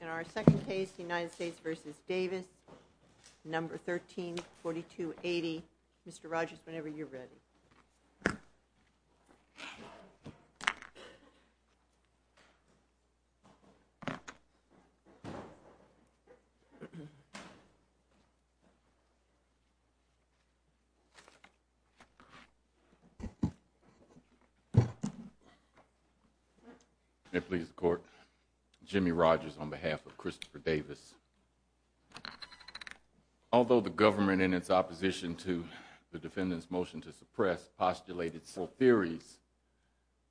In our second case, United States v. Davis, No. 13-4280. Mr. Rogers, whenever you're ready. May it please the Court, Jimmy Rogers on behalf of Christopher Davis. Although the government, in its opposition to the defendant's motion to suppress, postulated several theories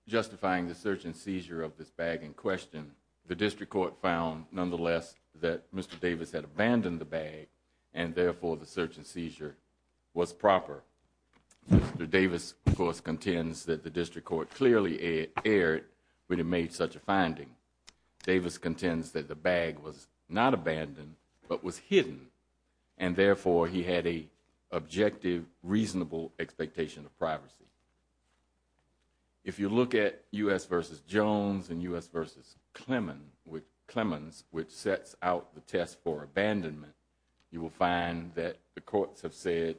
justifying the search and seizure of this bag in question, the District Court found, nonetheless, that Mr. Davis had abandoned the bag and, therefore, the search and seizure was proper. Mr. Davis, of course, contends that the District Court clearly erred when it made such a finding. Davis contends that the bag was not abandoned but was hidden and, therefore, he had an objective, reasonable expectation of privacy. If you look at U.S. v. Jones and U.S. v. Clemens, which sets out the test for abandonment, you will find that the courts have said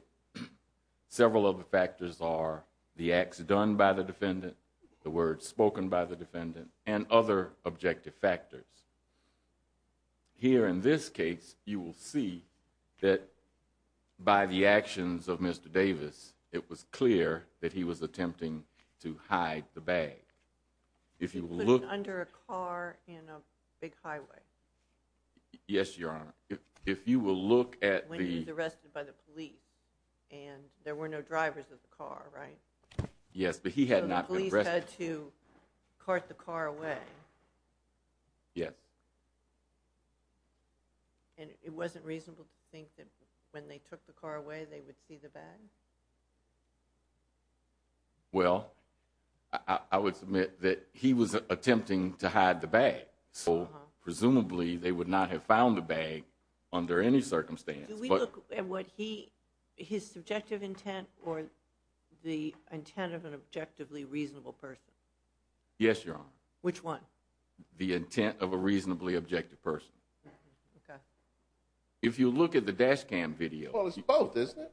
several of the factors are the acts done by the defendant, the words spoken by the defendant, and other objective factors. Here in this case, you will see that by the actions of Mr. Davis, it was clear that he was attempting to hide the bag. If you look under a car in a big highway, yes, Your Honor, if you will look at the arrested by the police and there were no drivers of the car, right? Yes, but he had not been arrested. So the police had to cart the car away? Yes. And it wasn't reasonable to think that when they took the car away, they would see the bag? Well, I would submit that he was attempting to hide the bag. So, presumably, they would not have found the bag under any circumstance. Do we look at his subjective intent or the intent of an objectively reasonable person? Yes, Your Honor. Which one? The intent of a reasonably objective person. If you look at the dash cam video... Well, it's both, isn't it?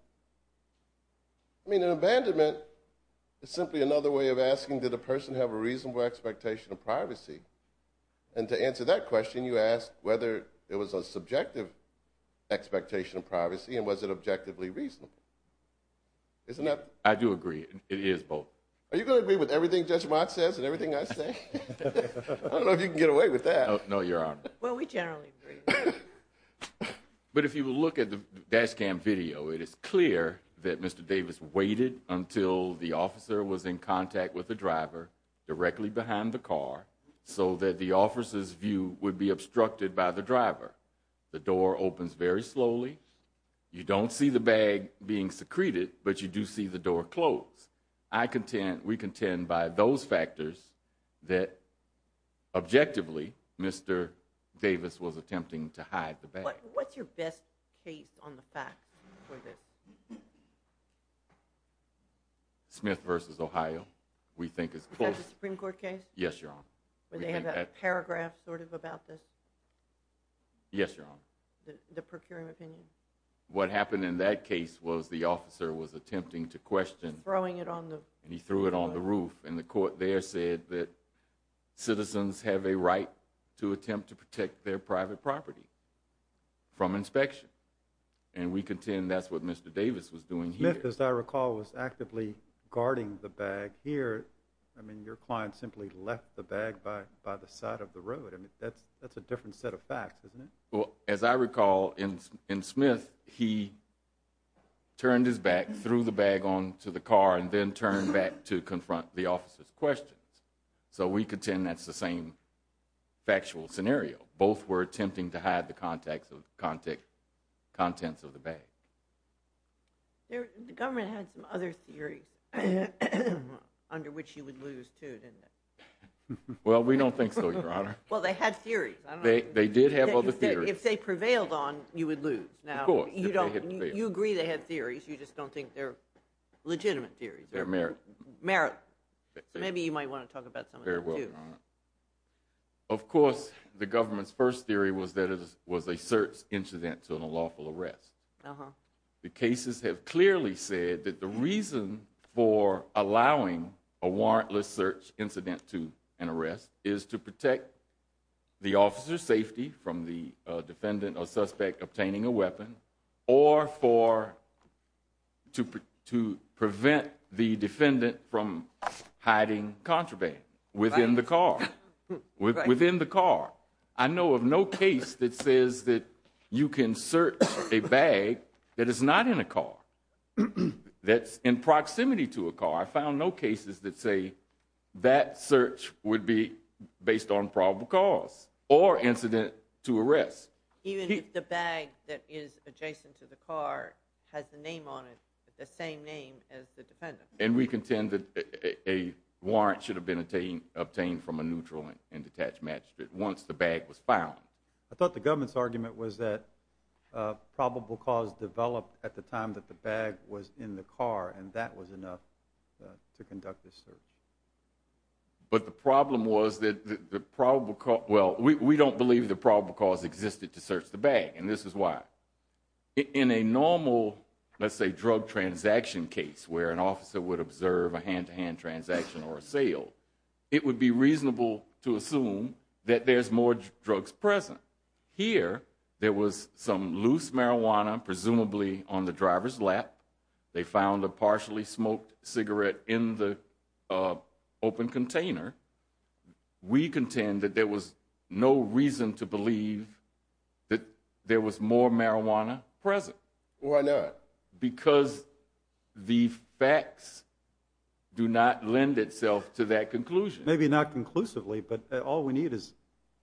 I mean, an abandonment is simply another way of asking, did the person have a reasonable expectation of privacy? And to answer that question, you ask whether it was a subjective expectation of privacy and was it objectively reasonable? I do agree. It is both. Are you going to agree with everything Judge Mott says and everything I say? I don't know if you can get away with that. No, Your Honor. Well, we generally agree. But if you will look at the dash cam video, it is clear that Mr. Davis waited until the officers' view would be obstructed by the driver. The door opens very slowly. You don't see the bag being secreted, but you do see the door closed. We contend by those factors that, objectively, Mr. Davis was attempting to hide the bag. What's your best case on the fact? Smith v. Ohio, we think is close. Is that the Supreme Court case? Yes, Your Honor. Where they have that paragraph sort of about this? Yes, Your Honor. The procuring opinion? What happened in that case was the officer was attempting to question. Throwing it on the... And he threw it on the roof. And the court there said that citizens have a right to attempt to protect their private property from inspection. And we contend that's what Mr. Davis was doing here. Smith, as I recall, was actively guarding the bag here. I mean, your client simply left the bag by the side of the road. That's a different set of facts, isn't it? Well, as I recall, in Smith, he turned his back, threw the bag onto the car, and then turned back to confront the officer's questions. So we contend that's the same factual scenario. Both were attempting to hide the contents of the bag. The government had some other theories under which you would lose, too, didn't it? Well, we don't think so, Your Honor. Well, they had theories. They did have other theories. If they prevailed on, you would lose. Of course. You agree they had theories. You just don't think they're legitimate theories. They're merit. Merit. So maybe you might want to talk about some of them, too. Very well, Your Honor. Of course, the government's first theory was that it was a search incident and a lawful arrest. The cases have clearly said that the reason for allowing a warrantless search incident to an arrest is to protect the officer's safety from the defendant or suspect obtaining a weapon or to prevent the defendant from hiding contraband within the car. Within the car. I know of no case that says that you can search a bag that is not in a car, that's in proximity to a car. I found no cases that say that search would be based on probable cause or incident to arrest. Even if the bag that is adjacent to the car has the name on it, the same name as the defendant. And we contend that a warrant should have been obtained from a neutral and detached magistrate once the bag was found. I thought the government's argument was that probable cause developed at the time that the bag was in the car and that was enough to conduct the search. But the problem was that the probable cause, well, we don't believe the probable cause existed to search the bag, and this is why. In a normal, let's say, drug transaction case where an officer would observe a hand-to-hand transaction or a sale, it would be reasonable to assume that there's more drugs present. Here, there was some loose marijuana, presumably on the driver's lap. They found a partially smoked cigarette in the open container. We contend that there was no reason to believe that there was more marijuana present. Why not? Because the facts do not lend itself to that conclusion. Maybe not conclusively, but all we need is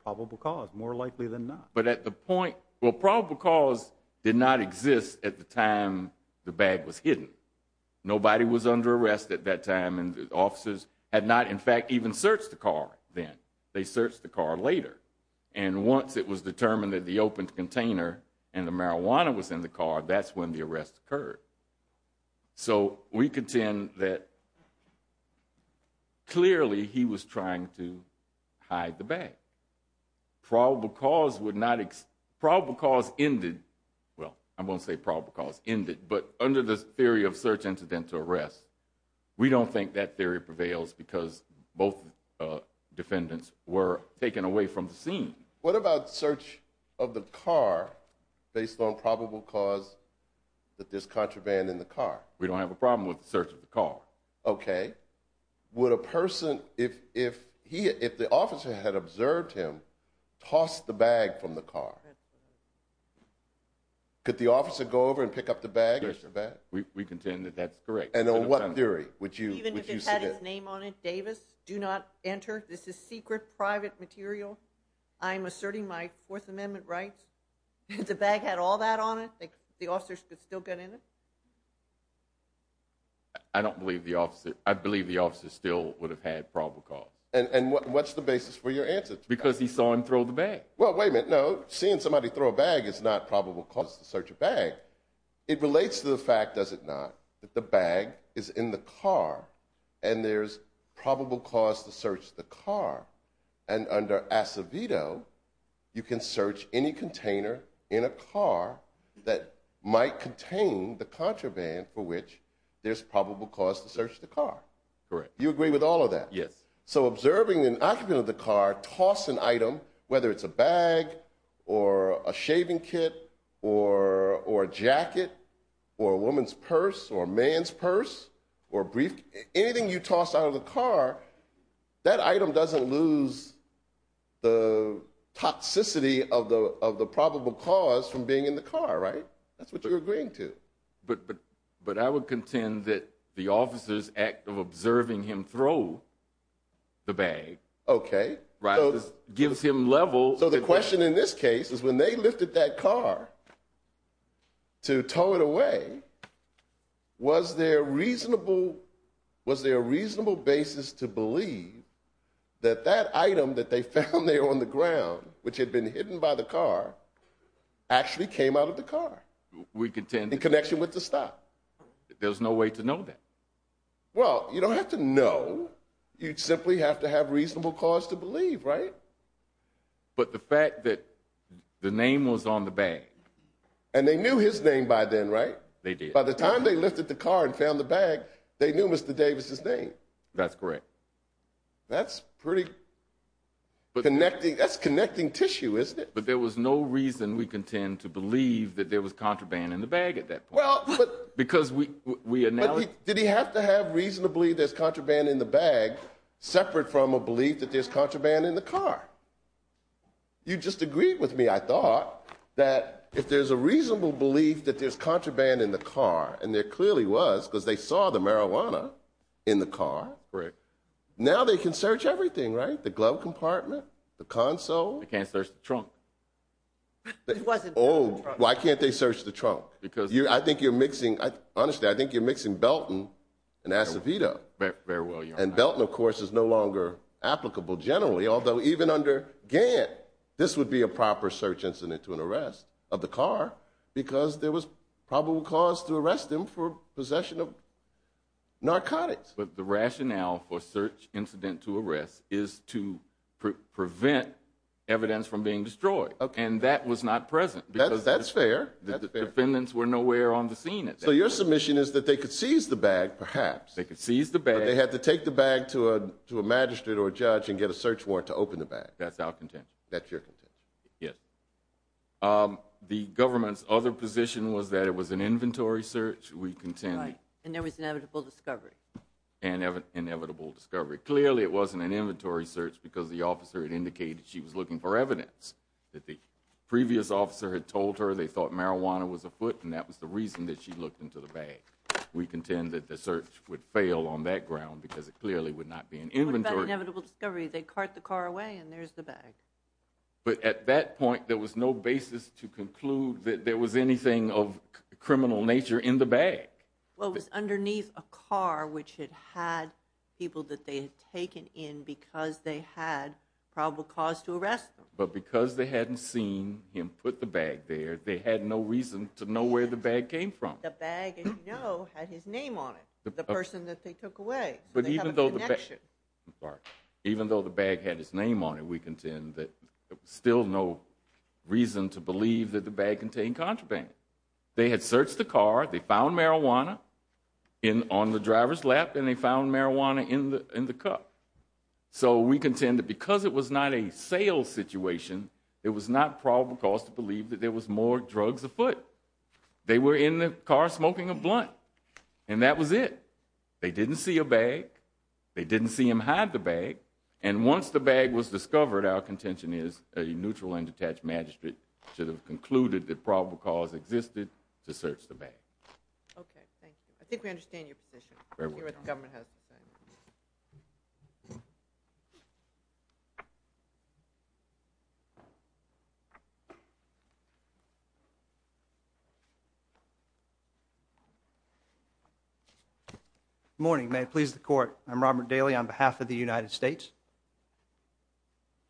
probable cause. More likely than not. But at the point, well, probable cause did not exist at the time the bag was hidden. Nobody was under arrest at that time, and the officers had not, in fact, even searched the car then. They searched the car later. And once it was determined that the open container and the marijuana was in the car, that's when the arrest occurred. So we contend that, clearly, he was trying to hide the bag. Probable cause would not exist. Probable cause ended, well, I'm going to say probable cause ended, but under the theory of search incident to arrest, we don't think that theory prevails because both defendants were taken away from the scene. What about search of the car based on probable cause that there's contraband in the car? We don't have a problem with the search of the car. Okay. Would a person, if the officer had observed him, toss the bag from the car? That's correct. Could the officer go over and pick up the bag? Yes, sir. We contend that that's correct. And on what theory would you suggest? Even if it had his name on it, Davis, do not enter. This is secret, private material. I'm asserting my Fourth Amendment rights. If the bag had all that on it, the officers could still get in it? I don't believe the officer, I believe the officer still would have had probable cause. And what's the basis for your answer? Because he saw him throw the bag. Well, wait a minute. No, seeing somebody throw a bag is not probable cause to search a bag. It relates to the fact, does it not, that the bag is in the car and there's probable cause to search the car. And under Acevedo, you can search any container in a car that might contain the contraband for which there's probable cause to search the car. Correct. You agree with all of that? Yes. So, observing an occupant of the car toss an item, whether it's a bag or a shaving kit or a jacket or a woman's purse or a man's purse or a briefcase, anything you find in the car, that item doesn't lose the toxicity of the probable cause from being in the car, right? That's what you're agreeing to. But I would contend that the officer's act of observing him throw the bag gives him level. So the question in this case is when they lifted that car to tow it away, was there a reasonable basis to believe that that item that they found there on the ground, which had been hidden by the car, actually came out of the car in connection with the stop? There's no way to know that. Well, you don't have to know. You simply have to have reasonable cause to believe, right? But the fact that the name was on the bag. And they knew his name by then, right? They did. By the time they lifted the car and found the bag, they knew Mr. Davis's name. That's correct. That's pretty connecting. That's connecting tissue, isn't it? But there was no reason we contend to believe that there was contraband in the bag at that point. Well, but. Because we. Did he have to have reason to believe there's contraband in the bag separate from a belief that there's contraband in the car? You just agreed with me, I thought, that if there's a reasonable belief that there's contraband in the car, and there clearly was, because they saw the marijuana in the car, now they can search everything, right? The glove compartment, the console. They can't search the trunk. It wasn't. Oh, why can't they search the trunk? Because. I think you're mixing, honestly, I think you're mixing Belton and Acevedo. Very well, Your Honor. And Belton, of course, is no longer applicable generally, although even under Gantt, this would be a proper search incident to an arrest of the car, because there was probable cause to arrest him for possession of narcotics. But the rationale for search incident to arrest is to prevent evidence from being destroyed. Okay. And that was not present. That's fair. The defendants were nowhere on the scene at that point. So your submission is that they could seize the bag, perhaps. They could seize the bag. But they had to take the bag to a magistrate or a judge and get a search warrant to open the bag. That's our contention. That's your contention. Yes. The government's other position was that it was an inventory search. We contend. Right. And there was inevitable discovery. Inevitable discovery. Clearly, it wasn't an inventory search, because the officer had indicated she was looking for evidence. That the previous officer had told her they thought marijuana was afoot, and that was the reason that she looked into the bag. We contend that the search would fail on that ground, because it clearly would not be an inventory search. What about inevitable discovery? They cart the car away, and there's the bag. But at that point, there was no basis to conclude that there was anything of criminal nature in the bag. Well, it was underneath a car which had had people that they had taken in because they had probable cause to arrest them. But because they hadn't seen him put the bag there, they had no reason to know where the bag came from. The bag, as you know, had his name on it, the person that they took away. So they have a connection. Even though the bag had his name on it, we contend that there was still no reason to believe that the bag contained contraband. They had searched the car, they found marijuana on the driver's lap, and they found marijuana in the cup. So we contend that because it was not a sales situation, it was not probable cause to believe that there was more drugs afoot. They were in the car smoking a blunt, and that was it. They didn't see a bag. They didn't see him hide the bag. And once the bag was discovered, our contention is a neutral and detached magistrate should have concluded that probable cause existed to search the bag. Okay, thank you. I think we understand your position. Very well. We're here at the Government House. Good morning. May it please the Court. I'm Robert Daly on behalf of the United States.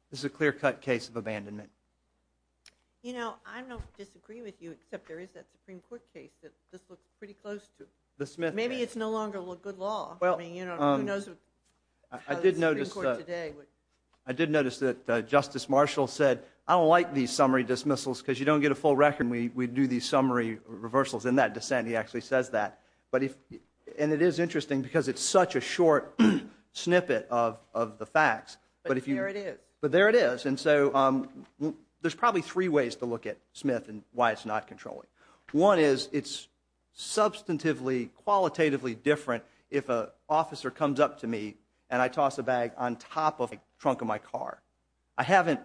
This is a clear-cut case of abandonment. You know, I don't disagree with you, except there is that Supreme Court case that this looks pretty close to. The Smith case. Maybe it's no longer good law. I mean, who knows how the Supreme Court today would... I did notice that Justice Marshall said, I don't like these summary dismissals because you don't get a full record and we do these summary reversals. In that dissent, he actually says that. And it is interesting because it's such a short snippet of the facts. But there it is. But there it is. And so, there's probably three ways to look at Smith and why it's not controlling. One is, it's substantively, qualitatively different if an officer comes up to me and I toss a bag on top of the trunk of my car. I haven't...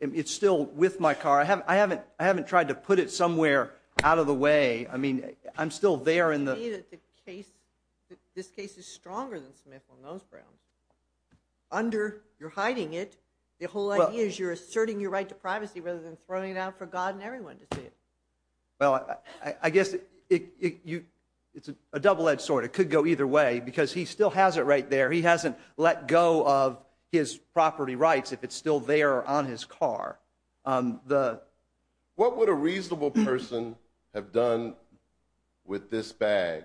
It's still with my car. I haven't tried to put it somewhere out of the way. I mean, I'm still there in the... This case is stronger than Smith on those grounds. Under, you're hiding it. The whole idea is you're asserting your right to privacy rather than throwing it out for God and everyone to see it. Well, I guess it's a double-edged sword. It could go either way because he still has it right there. He hasn't let go of his property rights if it's still there on his car. What would a reasonable person have done with this bag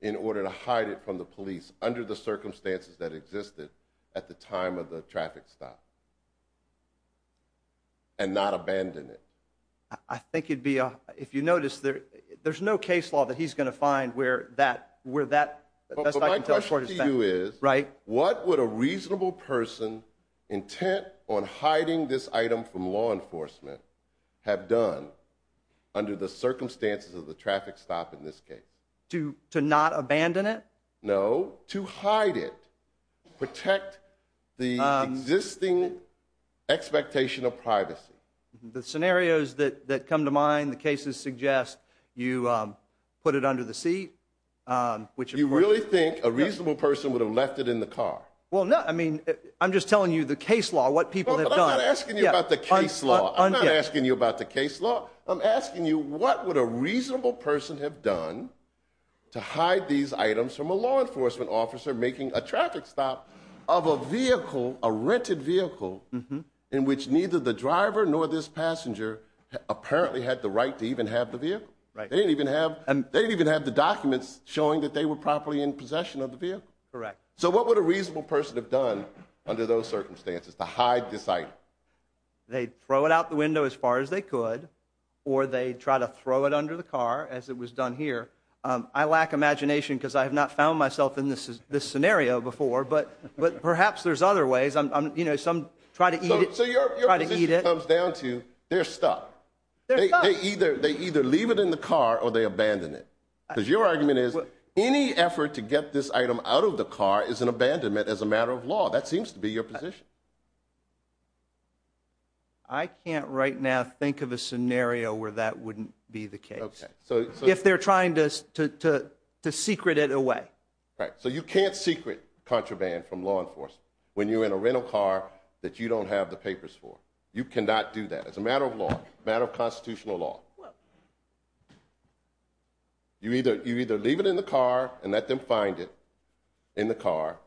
in order to hide it from the police under the circumstances that existed at the time of the traffic stop and not abandon it? I think it'd be... If you notice, there's no case law that he's going to find where that... But my question to you is, what would a reasonable person intent on hiding this item from law enforcement have done under the circumstances of the traffic stop in this case? To not abandon it? No, to hide it, protect the existing expectation of privacy. The scenarios that come to mind, the cases suggest you put it under the seat, which... You really think a reasonable person would have left it in the car? Well, no. I mean, I'm just telling you the case law, what people have done. I'm not asking you about the case law. I'm not asking you about the case law. I'm asking you what would a reasonable person have done to hide these items from a law enforcement officer making a traffic stop of a vehicle, a rented vehicle, in which neither the driver nor this passenger apparently had the right to even have the vehicle. They didn't even have the documents showing that they were properly in possession of the vehicle. Correct. So what would a reasonable person have done under those circumstances to hide this item? They'd throw it out the window as far as they could, or they'd try to throw it under the car, as it was done here. I lack imagination because I have not found myself in this scenario before, but perhaps there's other ways. You know, some try to eat it. So your position comes down to, they're stuck. They either leave it in the car or they abandon it. Because your argument is, any effort to get this item out of the car is an abandonment as a matter of law. That seems to be your position. I can't right now think of a scenario where that wouldn't be the case. If they're trying to secret it away. Right. So you can't secret contraband from law enforcement when you're in a rental car that you don't have the papers for. You cannot do that. It's a matter of law. A matter of constitutional law. You either leave it in the car and let them find it in the car,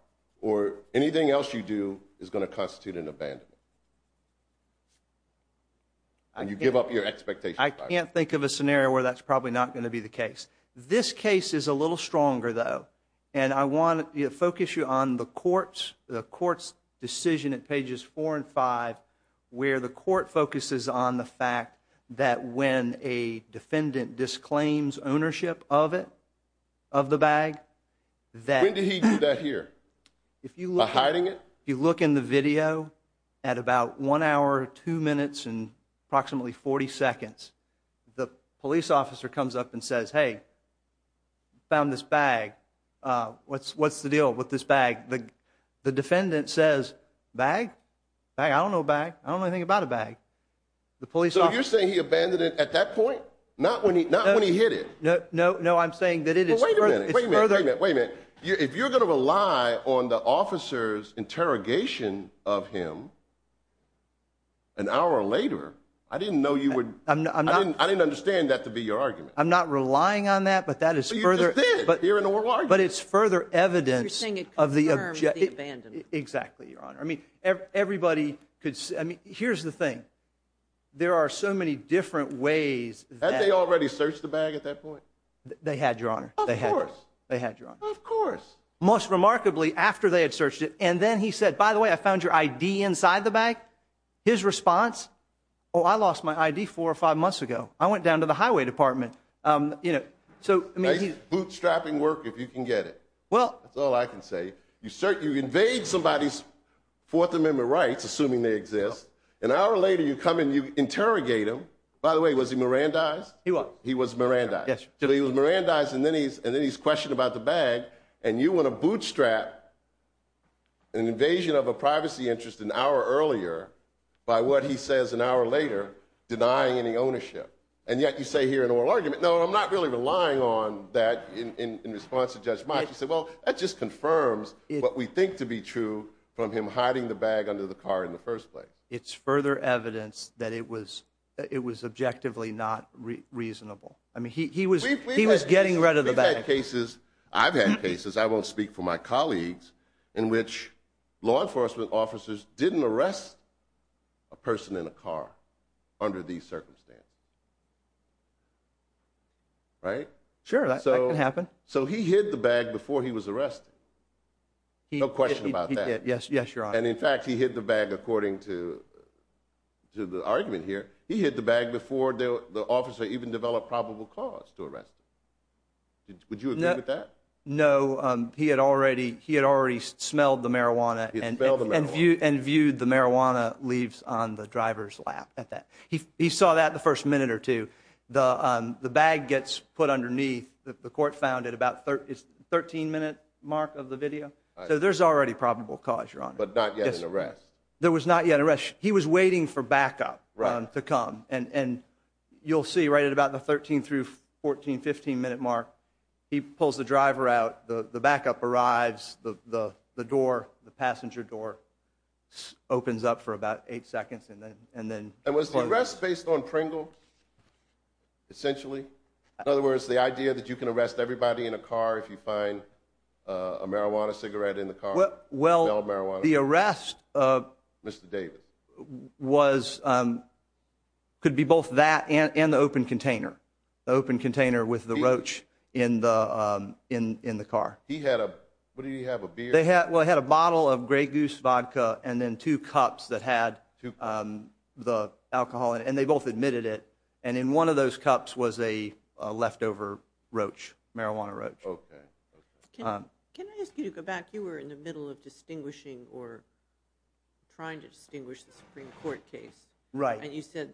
or anything else you do is going to constitute an abandonment. And you give up your expectation. I can't think of a scenario where that's probably not going to be the case. This case is a little stronger, though. And I want to focus you on the court's decision at pages 4 and 5, where the court focuses on the fact that when a defendant disclaims ownership of it, of the bag, When did he do that here? By hiding it? If you look in the video, at about 1 hour, 2 minutes, and approximately 40 seconds, the police officer comes up and says, Hey, we found this bag. What's the deal with this bag? The defendant says, Bag? I don't know a bag. I don't know anything about a bag. So you're saying he abandoned it at that point? Not when he hit it? No, I'm saying that it's further... Wait a minute. If you're going to rely on the officer's interrogation of him, an hour later, I didn't know you would... I didn't understand that to be your argument. I'm not relying on that, but that is further... But you just did. You're in a world argument. But it's further evidence... You're saying it confirmed the abandonment. Exactly, Your Honor. Here's the thing. There are so many different ways... Had they already searched the bag at that point? They had, Your Honor. Of course. Most remarkably, after they had searched it, and then he said, by the way, I found your ID inside the bag. His response, Oh, I lost my ID 4 or 5 months ago. I went down to the highway department. Bootstrapping work, if you can get it. That's all I can say. You invade somebody's 4th Amendment rights, assuming they exist. An hour later, you come and interrogate him. By the way, was he Mirandized? He was. He was Mirandized. Then he's questioned about the bag, and you want to bootstrap an invasion of a privacy interest an hour earlier by what he says an hour later, denying any ownership. And yet, you say here in oral argument, No, I'm not really relying on that in response to Judge Mach. That just confirms what we think to be true from him hiding the bag under the car in the first place. It's further evidence that it was objectively not reasonable. He was getting rid of the bag. We've had cases, I've had cases, in which law enforcement officers didn't arrest a person in a car under these circumstances. Right? So he hid the bag before he was arrested. No question about that. And in fact, he hid the bag according to the argument here. He hid the bag before the officer even developed probable cause to arrest him. Would you agree with that? No, he had already smelled the marijuana and viewed the marijuana leaves on the driver's lap. He saw that the first minute or two. The bag gets put underneath, the court found, at about the 13 minute mark of the video. So there's already probable cause, Your Honor. But not yet an arrest. There was not yet an arrest. He was waiting for backup to come. And you'll see right at about the 13 through 14, 15 minute mark, he pulls the driver out, the backup arrives, the door, the passenger door opens up for about 8 seconds and then... And was the arrest based on Pringle? Essentially? In other words, the idea that you can arrest everybody in a car if you find a marijuana cigarette in the car? Well, the arrest of Mr. Davis was could be both that and the open container. The open container with the roach in the car. He had a, what did he have, a beer? Well, he had a bottle of Grey Goose vodka and then two cups that had the alcohol and they both admitted it. And in one of those cups was a leftover roach. Marijuana roach. Can I ask you to go back? You were in the middle of distinguishing or trying to distinguish the Supreme Court case. Right. And you said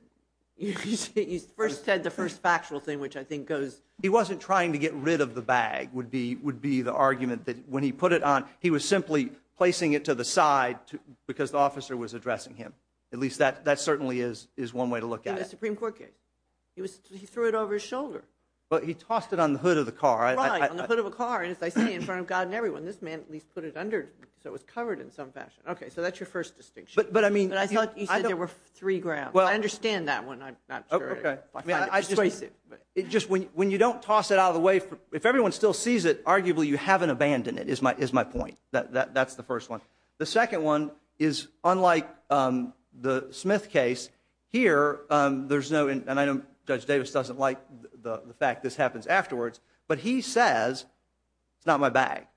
you first said the first factual thing, which I think goes... He wasn't trying to get rid of the bag, would be the he was simply placing it to the side because the officer was addressing him. At least that certainly is one way to look at it. In the Supreme Court case? He threw it over his shoulder. But he tossed it on the hood of the car. Right, on the hood of a car. And as I say, in front of God and everyone, this man at least put it under so it was covered in some fashion. Okay, so that's your first distinction. But I mean... But I thought you said there were three grounds. I understand that one. I'm not sure. Okay. When you don't toss it out of the way, if everyone still sees it, you haven't abandoned it, is my point. That's the first one. The second one is unlike the Smith case, here, there's no... And I know Judge Davis doesn't like the fact this happens afterwards, but he says it's not my bag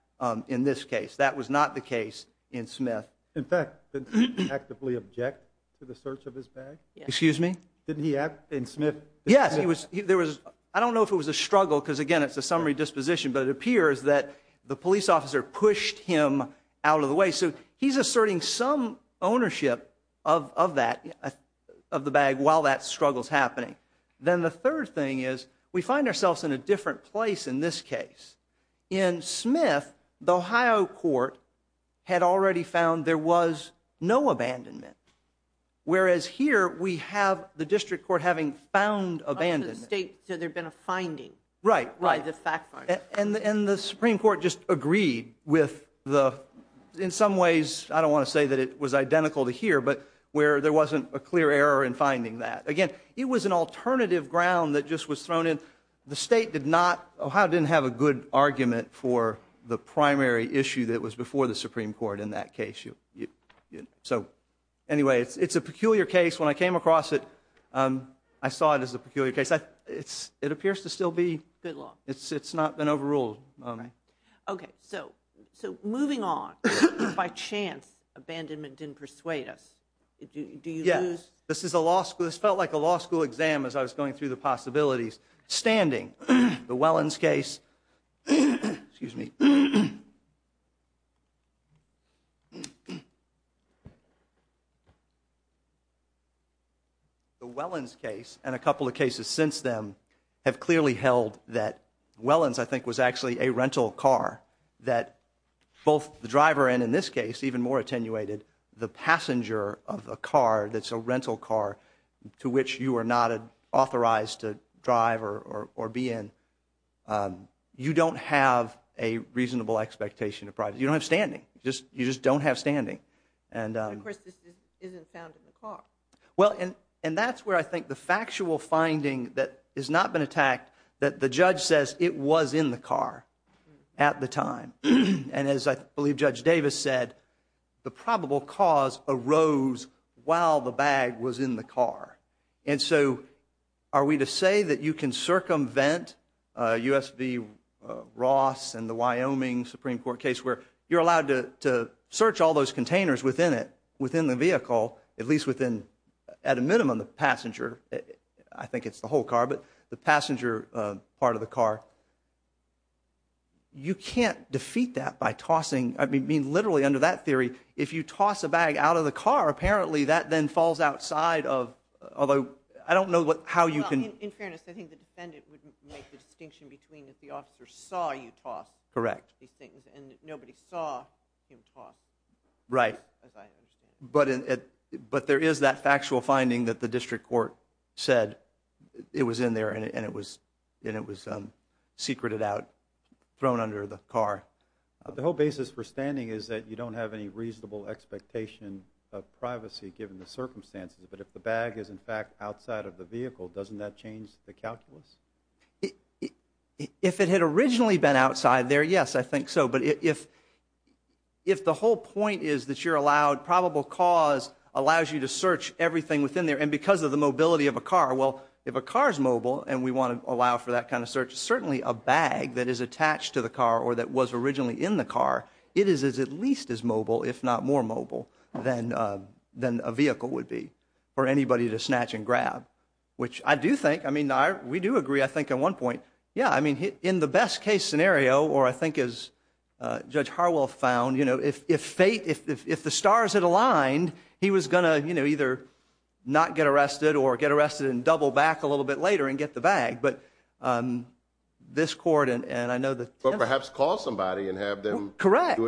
in this case. That was not the case in Smith. In fact, didn't he actively object to the search of his bag? Excuse me? Didn't he in Smith... Yes, he was... I don't know if it was a struggle, because again it's a summary disposition, but it appears that the police officer pushed him out of the way. So he's asserting some ownership of that, of the bag while that struggle's happening. Then the third thing is, we find ourselves in a different place in this case. In Smith, the Ohio court had already found there was no abandonment. Whereas here, we have the district court having found abandonment. Up to the state, so there'd been a finding. Right. And the Supreme Court just agreed with the... In some ways, I don't want to say that it was identical to here, but where there wasn't a clear error in finding that. Again, it was an alternative ground that just was thrown in. The state did not... Ohio didn't have a good argument for the primary issue that was before the Supreme Court in that case. Anyway, it's a peculiar case. When I came across it, I saw it as a peculiar case. It appears to still be... It's not been overruled. Okay, so moving on. By chance, abandonment didn't persuade us. Do you lose... Yeah. This felt like a law school exam as I was going through the possibilities. Standing, the Wellins case... Excuse me.... The Wellins case, and a couple of cases since them, have clearly held that Wellins, I think, was actually a rental car that both the driver and, in this case, even more attenuated, the passenger of a car that's a rental car to which you are not authorized to drive or be in. So you don't have a reasonable expectation of privacy. You don't have standing. You just don't have standing. Of course, this isn't found in the car. Well, and that's where I think the factual finding that has not been attacked, that the judge says it was in the car at the time. And as I believe Judge Davis said, the probable cause arose while the bag was in the car. And so, are we to say that you can circumvent U.S. v. Ross and the Wyoming Supreme Court case where you're allowed to search all those containers within it, within the vehicle, at least within, at a minimum, the passenger. I think it's the whole car, but the passenger part of the car. You can't defeat that by tossing... I mean, literally, under that theory, if you toss a bag out of the car, apparently that then falls outside of... I don't know how you can... In fairness, I think the defendant wouldn't make the distinction between if the officer saw you toss these things, and nobody saw him toss. Right. But there is that factual finding that the district court said it was in there and it was secreted out, thrown under the car. The whole basis for standing is that you don't have any reasonable expectation of privacy given the circumstances. But if the bag is, in fact, outside of the vehicle, doesn't that change the calculus? If it had originally been outside there, yes, I think so. But if the whole point is that you're allowed probable cause allows you to search everything within there, and because of the mobility of a car, well, if a car is mobile, and we want to allow for that kind of search, certainly a bag that is attached to the car or that was originally in the car, it is at least as mobile if not more mobile than a vehicle would be for anybody to snatch and grab. Which I do think, I mean, we do agree I think at one point, yeah, I mean, in the best case scenario, or I think as Judge Harwell found, if fate, if the stars had aligned, he was going to either not get arrested or get arrested and double back a little bit later and get the bag. But this court, and I know that But perhaps call somebody and have them correct.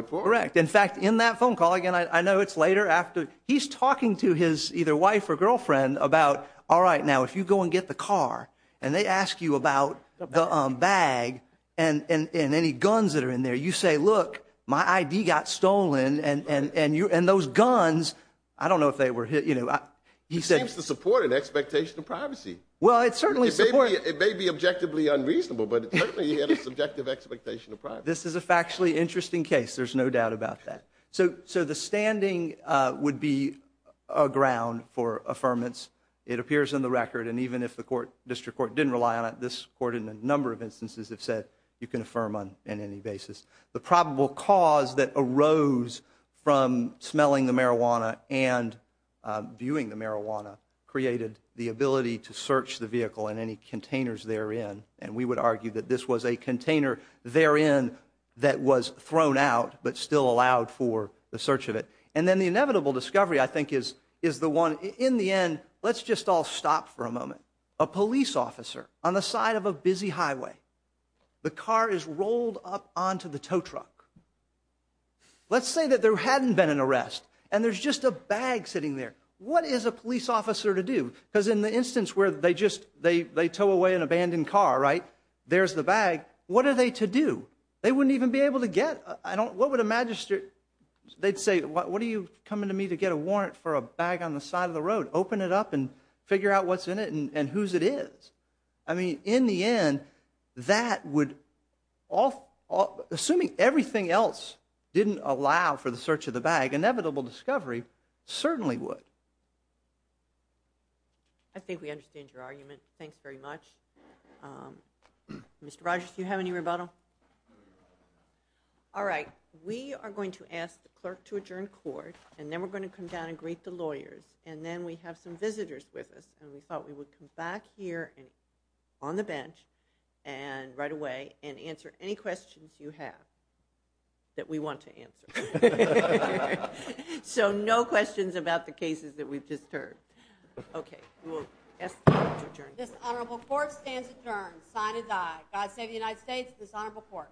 In fact, in that phone call, again, I know it's later after, he's talking to his either wife or girlfriend about, all right, now, if you go and get the car, and they ask you about the bag and any guns that are in there, you say, look, my ID got stolen, and those guns, I don't know if they were, you know, he said. It seems to support an expectation of privacy. Well, it certainly supports. It may be objectively unreasonable, but it certainly had a subjective expectation of privacy. This is a factually interesting case. There's no doubt about that. So, the standing would be a ground for affirmance. It appears in the record, and even if the court, district court, didn't rely on it, this court in a number of instances have said you can affirm on any basis. The probable cause that arose from smelling the marijuana and viewing the marijuana created the ability to search the vehicle and any containers therein, and we would argue that this was a container therein that was thrown out, but still allowed for the search of it. And then the inevitable discovery, I think, is the one, in the end, let's just all stop for a moment. A police officer on the side of a busy highway. The car is rolled up onto the tow truck. Let's say that there hadn't been an arrest, and there's just a bag sitting there. What is a police officer to do? Because in the instance where they just, they tow away an abandoned car, right? There's the bag. What are they to do? They wouldn't even be able to get, what would a magistrate, they'd say, what are you coming to me to get a warrant for a bag on the side of the road? Open it up and figure out what's in it and whose it is. I mean, in the end, that would all, assuming everything else didn't allow for the search of the bag, inevitable discovery certainly would. I think we understand your argument. Thanks very much. Mr. Rogers, do you have any rebuttal? All right. We are going to ask the clerk to adjourn court and then we're going to come down and greet the lawyers and then we have some visitors with us and we thought we would come back here on the bench and right away and answer any questions you have that we want to answer. So no questions about the cases that we've just heard. Okay. We'll ask the clerk to adjourn court. This honorable court stands adjourned. Signed is I. God save the United States and this honorable court.